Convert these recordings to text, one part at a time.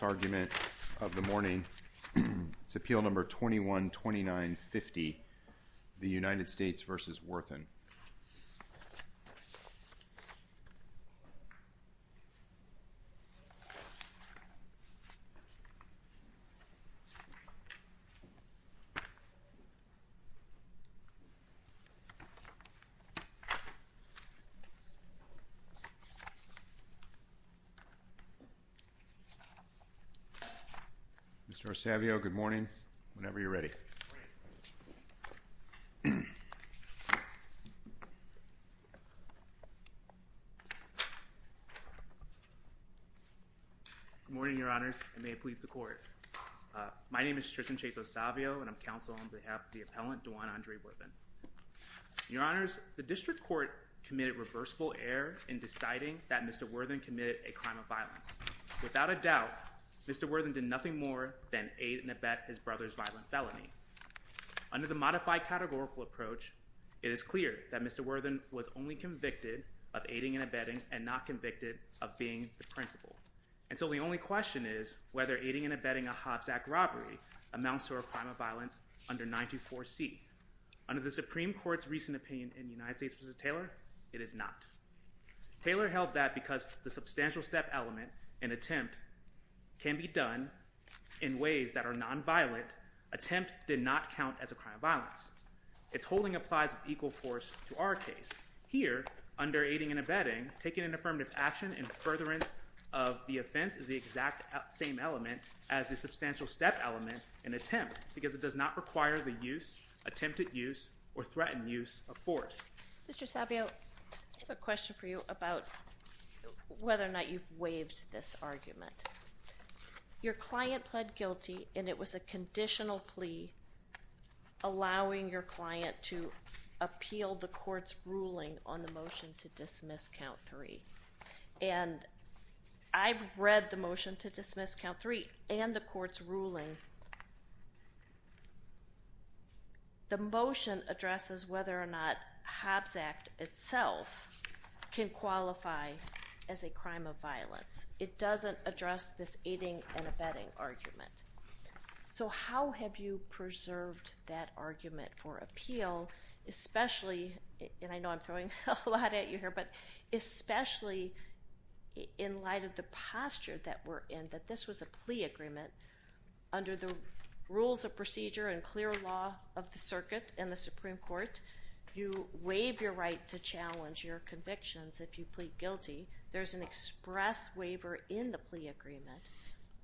argument of the morning. It's appeal number 21-2950, the United States v. Worthen. Mr. Osavio, good morning, whenever you're ready. Good morning, Your Honors, and may it please the Court. My name is Tristan Chase Osavio, and I'm counsel on behalf of the appellant, Dejuan A. Worthen. Your Honors, the District Court committed reversible error in deciding that Mr. Worthen committed a crime of violence. Without a doubt, Mr. Worthen did nothing more than aid and abet his brother's violent felony. Under the modified categorical approach, it is clear that Mr. Worthen was only convicted of aiding and abetting and not convicted of being the principal. And so the only question is whether aiding and abetting a Hobbs Act robbery amounts to a crime of violence under 924C. Under the Supreme Court's recent opinion in United States v. Taylor, it is not. Taylor held that because the substantial step element, an attempt, can be done in ways that are nonviolent, attempt did not count as a crime of violence. Its holding applies equal force to our case. Here, under aiding and abetting, taking an affirmative action in furtherance of the offense is the exact same element as the substantial step element, an attempt, because it does not require the use, attempted use, or threatened use of force. Mr. Sabio, I have a question for you about whether or not you've waived this argument. Your client pled guilty, and it was a conditional plea allowing your client to appeal the court's ruling on the motion to dismiss Count 3. And I've read the motion to dismiss Count 3 and the court's ruling. The motion addresses whether or not Hobbs Act itself can qualify as a crime of violence. It doesn't address this aiding and abetting argument. So how have you preserved that argument for appeal, especially, and I know I'm throwing a lot at you here, but especially in light of the posture that we're in, that this was a plea agreement under the rules of procedure and clear law of the circuit in the Supreme Court. You waive your right to challenge your convictions if you plead guilty. There's an express waiver in the plea agreement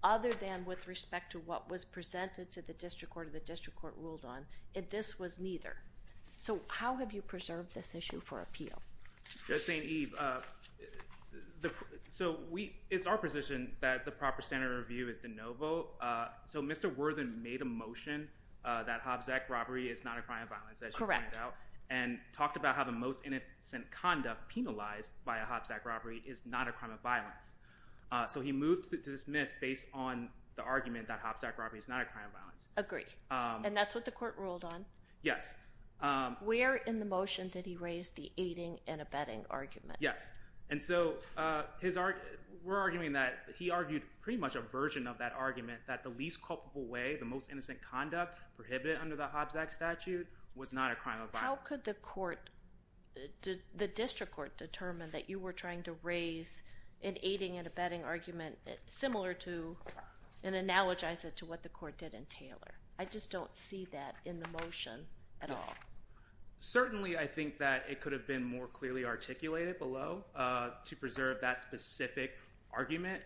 other than with respect to what was presented to the district court or the district court ruled on, and this was neither. So how have you preserved this issue for appeal? Just saying, Eve. So it's our position that the proper standard of review is de novo. So Mr. Worthen made a motion that Hobbs Act robbery is not a crime of violence, as you pointed out, and talked about how the most innocent conduct penalized by a Hobbs Act robbery is not a crime of violence. So he moved to dismiss based on the argument that Hobbs Act robbery is not a crime of violence. Agreed, and that's what the court ruled on? Yes. Where in the motion did he raise the aiding and abetting argument? Yes. And so we're arguing that he argued pretty much a version of that argument that the least culpable way, the most innocent conduct, prohibited under the Hobbs Act statute was not a crime of violence. How could the court, the district court, determine that you were trying to raise an aiding and abetting argument similar to and analogize it to what the court did in Taylor? I just don't see that in the motion at all. Certainly I think that it could have been more clearly articulated below to preserve that specific argument,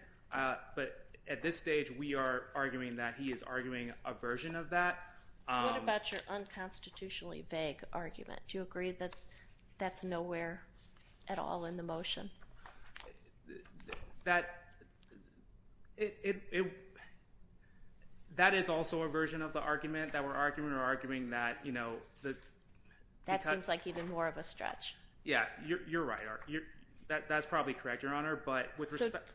but at this stage we are arguing that he is arguing a version of that. What about your unconstitutionally vague argument? Do you agree that that's nowhere at all in the motion? That is also a version of the argument that we're arguing. We're arguing that, you know. That seems like even more of a stretch. Yeah, you're right. That's probably correct, Your Honor, but with respect.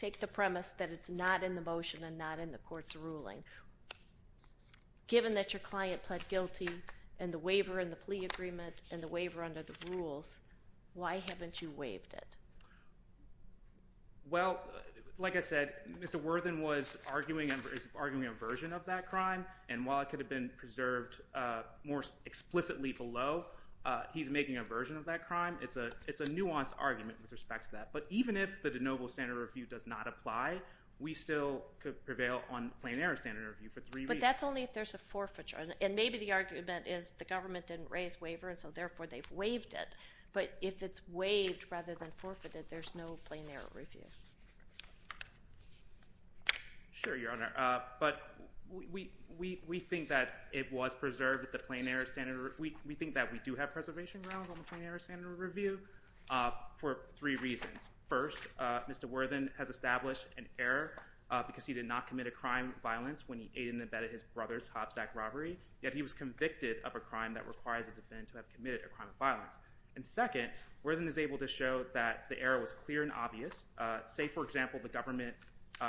Take the premise that it's not in the motion and not in the court's ruling. Given that your client pled guilty and the waiver in the plea agreement and the waiver under the rules, why haven't you waived it? Well, like I said, Mr. Worthen is arguing a version of that crime, and while it could have been preserved more explicitly below, he's making a version of that crime. It's a nuanced argument with respect to that. But even if the de novo standard review does not apply, we still could prevail on plein air standard review for three reasons. But that's only if there's a forfeiture, and maybe the argument is the government didn't raise waiver, and so therefore they've waived it. But if it's waived rather than forfeited, there's no plein air review. Sure, Your Honor. But we think that it was preserved at the plein air standard review. We think that we do have preservation grounds on the plein air standard review for three reasons. First, Mr. Worthen has established an error because he did not commit a crime of violence when he aided and abetted his brother's Hobbs Act robbery, yet he was convicted of a crime that requires a defendant to have committed a crime of violence. And second, Worthen is able to show that the error was clear and obvious. Say, for example, the government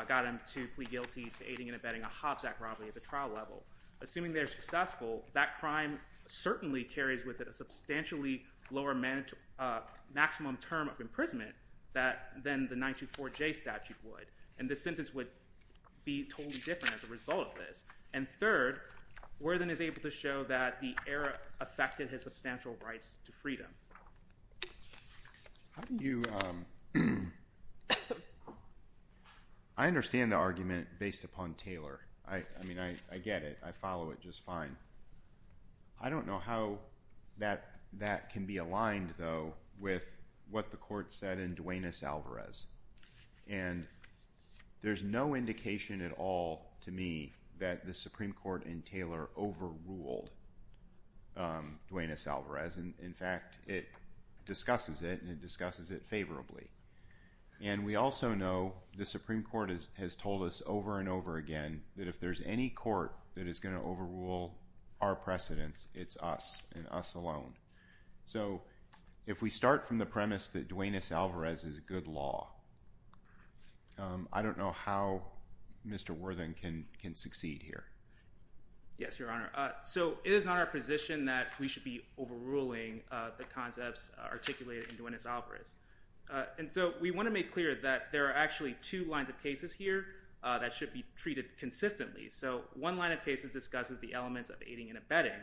got him to plead guilty to aiding and abetting a Hobbs Act robbery at the trial level. Assuming they're successful, that crime certainly carries with it a substantially lower maximum term of imprisonment than the 924J statute would, and the sentence would be totally different as a result of this. And third, Worthen is able to show that the error affected his substantial rights to freedom. I understand the argument based upon Taylor. I mean, I get it. I follow it just fine. I don't know how that can be aligned, though, with what the court said in Duenas-Alvarez. And there's no indication at all to me that the Supreme Court and Taylor overruled Duenas-Alvarez. In fact, it discusses it, and it discusses it favorably. And we also know the Supreme Court has told us over and over again that if there's any court that is going to overrule our precedence, it's us and us alone. So if we start from the premise that Duenas-Alvarez is a good law, I don't know how Mr. Worthen can succeed here. Yes, Your Honor. So it is not our position that we should be overruling the concepts articulated in Duenas-Alvarez. And so we want to make clear that there are actually two lines of cases here that should be treated consistently. So one line of cases discusses the elements of aiding and abetting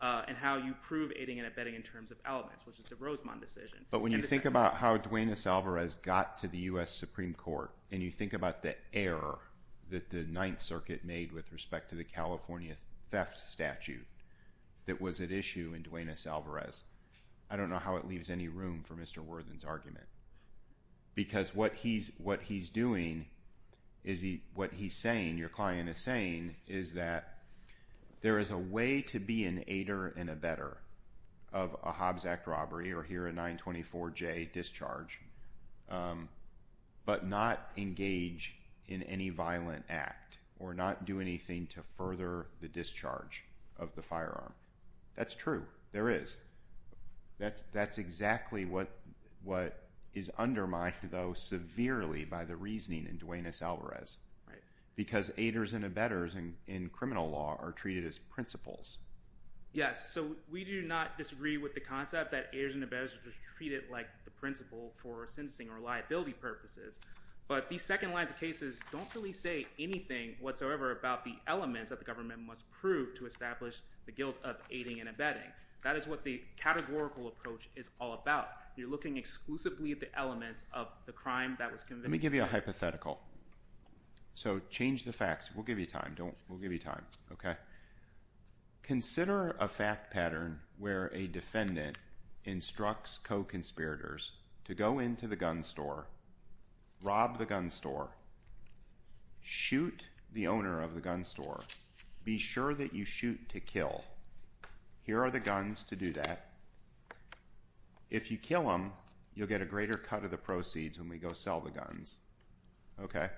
and how you prove aiding and abetting in terms of elements, which is the Rosemont decision. But when you think about how Duenas-Alvarez got to the U.S. Supreme Court and you think about the error that the Ninth Circuit made with respect to the California theft statute that was at issue in Duenas-Alvarez, I don't know how it leaves any room for Mr. Worthen's argument. Because what he's doing, what he's saying, your client is saying, is that there is a way to be an aider and abetter of a Hobbs Act robbery or here a 924J discharge but not engage in any violent act or not do anything to further the discharge of the firearm. That's true. There is. That's exactly what is undermined, though, severely by the reasoning in Duenas-Alvarez. Right. Because aiders and abettors in criminal law are treated as principles. Yes. So we do not disagree with the concept that aiders and abettors are treated like the principle for sentencing or liability purposes. But these second lines of cases don't really say anything whatsoever about the elements that the government must prove to establish the guilt of aiding and abetting. That is what the categorical approach is all about. You're looking exclusively at the elements of the crime that was convicted. Let me give you a hypothetical. So change the facts. We'll give you time. We'll give you time. Consider a fact pattern where a defendant instructs co-conspirators to go into the gun store, rob the gun store, shoot the owner of the gun store, be sure that you shoot to kill. Here are the guns to do that. If you kill them, you'll get a greater cut of the proceeds when we go sell the guns. Okay.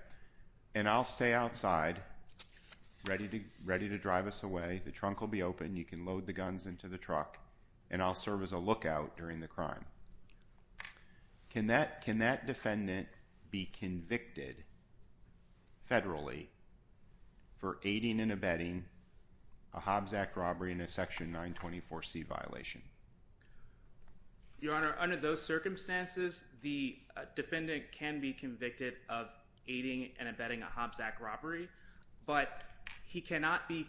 And I'll stay outside ready to drive us away. The trunk will be open. You can load the guns into the truck, and I'll serve as a lookout during the crime. Can that defendant be convicted federally for aiding and abetting a Hobbs Act robbery in a Section 924C violation? Your Honor, under those circumstances, the defendant can be convicted of aiding and abetting a Hobbs Act robbery, but he cannot be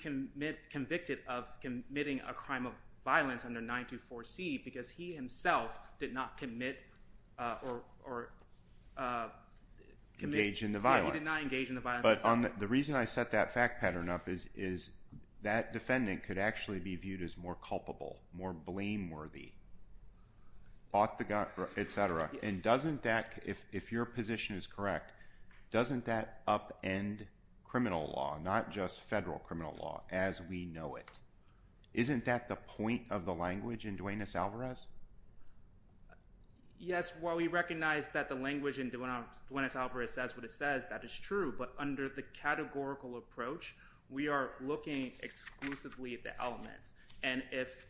convicted of committing a crime of violence under 924C because he himself did not commit or engage in the violence. He did not engage in the violence. But the reason I set that fact pattern up is that defendant could actually be viewed as more culpable, more blameworthy, bought the gun, et cetera. And doesn't that, if your position is correct, doesn't that upend criminal law, not just federal criminal law as we know it? Isn't that the point of the language in Duenas-Alvarez? Yes. While we recognize that the language in Duenas-Alvarez says what it says, that is true, but under the categorical approach, we are looking exclusively at the elements. And if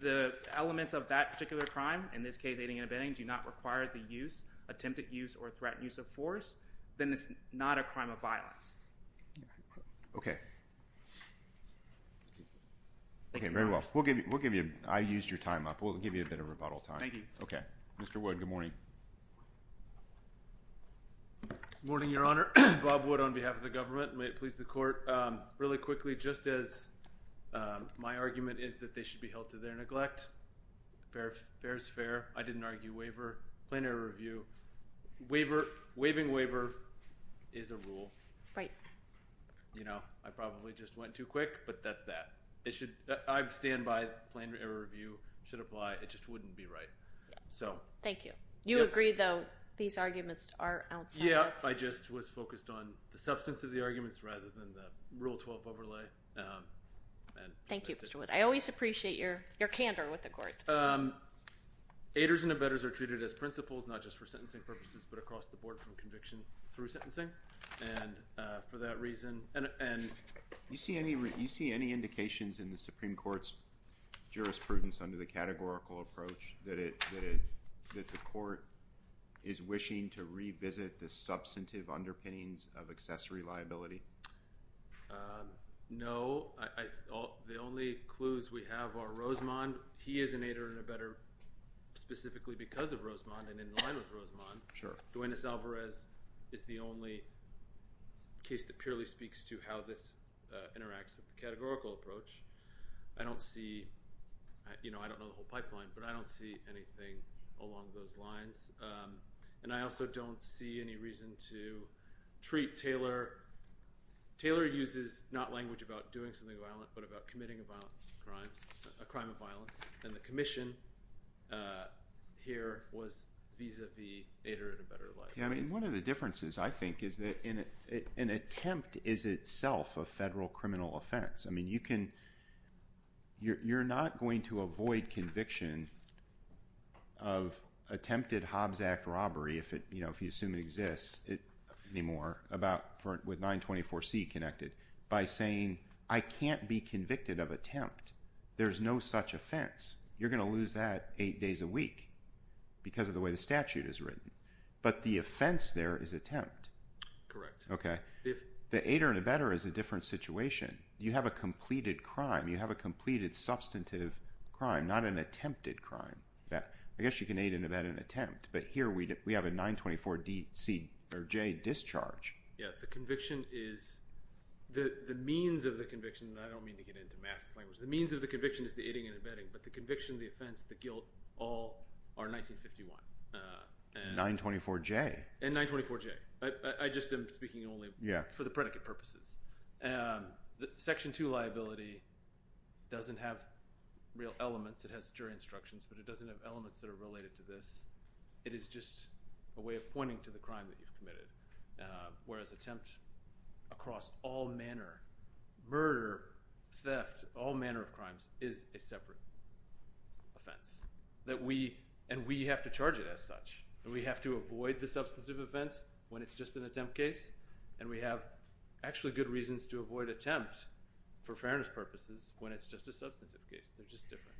the elements of that particular crime, in this case aiding and abetting, do not require the use, attempted use, or threatened use of force, then it's not a crime of violence. Okay. Okay, very well. We'll give you a bit of rebuttal time. Thank you. Okay. Mr. Wood, good morning. Good morning, Your Honor. Bob Wood on behalf of the government. May it please the Court. Really quickly, just as my argument is that they should be held to their neglect. Fair is fair. I didn't argue waiver. Planned error review. Waiver, waiving waiver is a rule. Right. You know, I probably just went too quick, but that's that. I stand by planned error review. It should apply. It just wouldn't be right. Thank you. You agree, though, these arguments are outside. Yeah. I just was focused on the substance of the arguments rather than the Rule 12 overlay. Thank you, Mr. Wood. I always appreciate your candor with the courts. Aiders and abettors are treated as principals, not just for sentencing purposes, but across the board from conviction through sentencing. And for that reason, and you see any indications in the Supreme Court's that the Court is wishing to revisit the substantive underpinnings of accessory liability? No. The only clues we have are Rosemond. He is an aider and abettor specifically because of Rosemond and in line with Rosemond. Sure. Duenas-Alvarez is the only case that purely speaks to how this interacts with the categorical approach. I don't see, you know, I don't know the whole pipeline, but I don't see anything along those lines. And I also don't see any reason to treat Taylor. Taylor uses not language about doing something violent but about committing a crime of violence. And the commission here was vis-à-vis aider and abettor. Yeah. I mean, one of the differences, I think, is that an attempt is itself a federal criminal offense. I mean, you're not going to avoid conviction of attempted Hobbs Act robbery, if you assume it exists anymore, with 924C connected, by saying, I can't be convicted of attempt. There's no such offense. You're going to lose that eight days a week because of the way the statute is written. But the offense there is attempt. Correct. Okay. The aider and abettor is a different situation. You have a completed crime. You have a completed substantive crime, not an attempted crime. I guess you can aid and abet an attempt. But here we have a 924C or J discharge. Yeah, the conviction is – the means of the conviction – and I don't mean to get into math language. The means of the conviction is the aiding and abetting. But the conviction, the offense, the guilt, all are 1951. 924J. And 924J. I just am speaking only for the predicate purposes. Section 2 liability doesn't have real elements. It has jury instructions, but it doesn't have elements that are related to this. It is just a way of pointing to the crime that you've committed. Whereas attempt across all manner – murder, theft, all manner of crimes – is a separate offense. And we have to charge it as such. And we have to avoid the substantive offense when it's just an attempt case. And we have actually good reasons to avoid attempt for fairness purposes when it's just a substantive case. They're just different.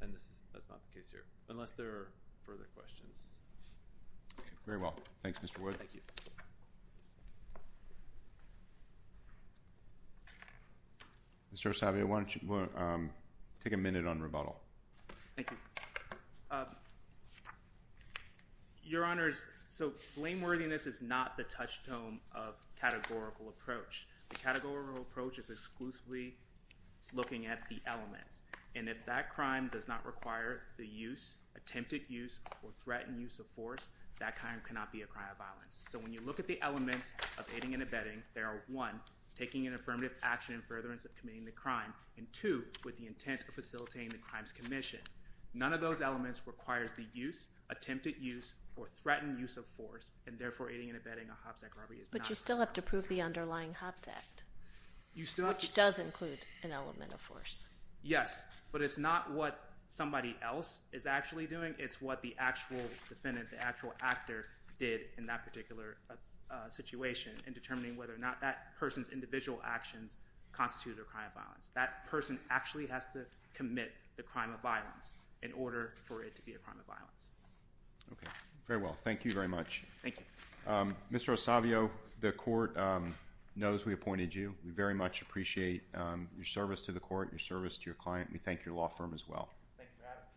And that's not the case here, unless there are further questions. Okay. Very well. Thanks, Mr. Wood. Thank you. Mr. Osagie, why don't you take a minute on rebuttal? Thank you. Your Honors, so blameworthiness is not the touchstone of categorical approach. The categorical approach is exclusively looking at the elements. And if that crime does not require the use, attempted use, or threatened use of force, that crime cannot be a crime of violence. So when you look at the elements of aiding and abetting, there are, one, taking an affirmative action in furtherance of committing the crime, and two, with the intent of facilitating the crime's commission. None of those elements requires the use, attempted use, or threatened use of force, and therefore aiding and abetting a Hobbs Act robbery is not. But you still have to prove the underlying Hobbs Act, which does include an element of force. Yes, but it's not what somebody else is actually doing. It's what the actual defendant, the actual actor did in that particular situation in determining whether or not that person's individual actions constitute a crime of violence. That person actually has to commit the crime of violence in order for it to be a crime of violence. Okay, very well. Thank you very much. Thank you. Mr. Osavio, the court knows we appointed you. We very much appreciate your service to the court, your service to your client. We thank your law firm as well. Thank you for having me.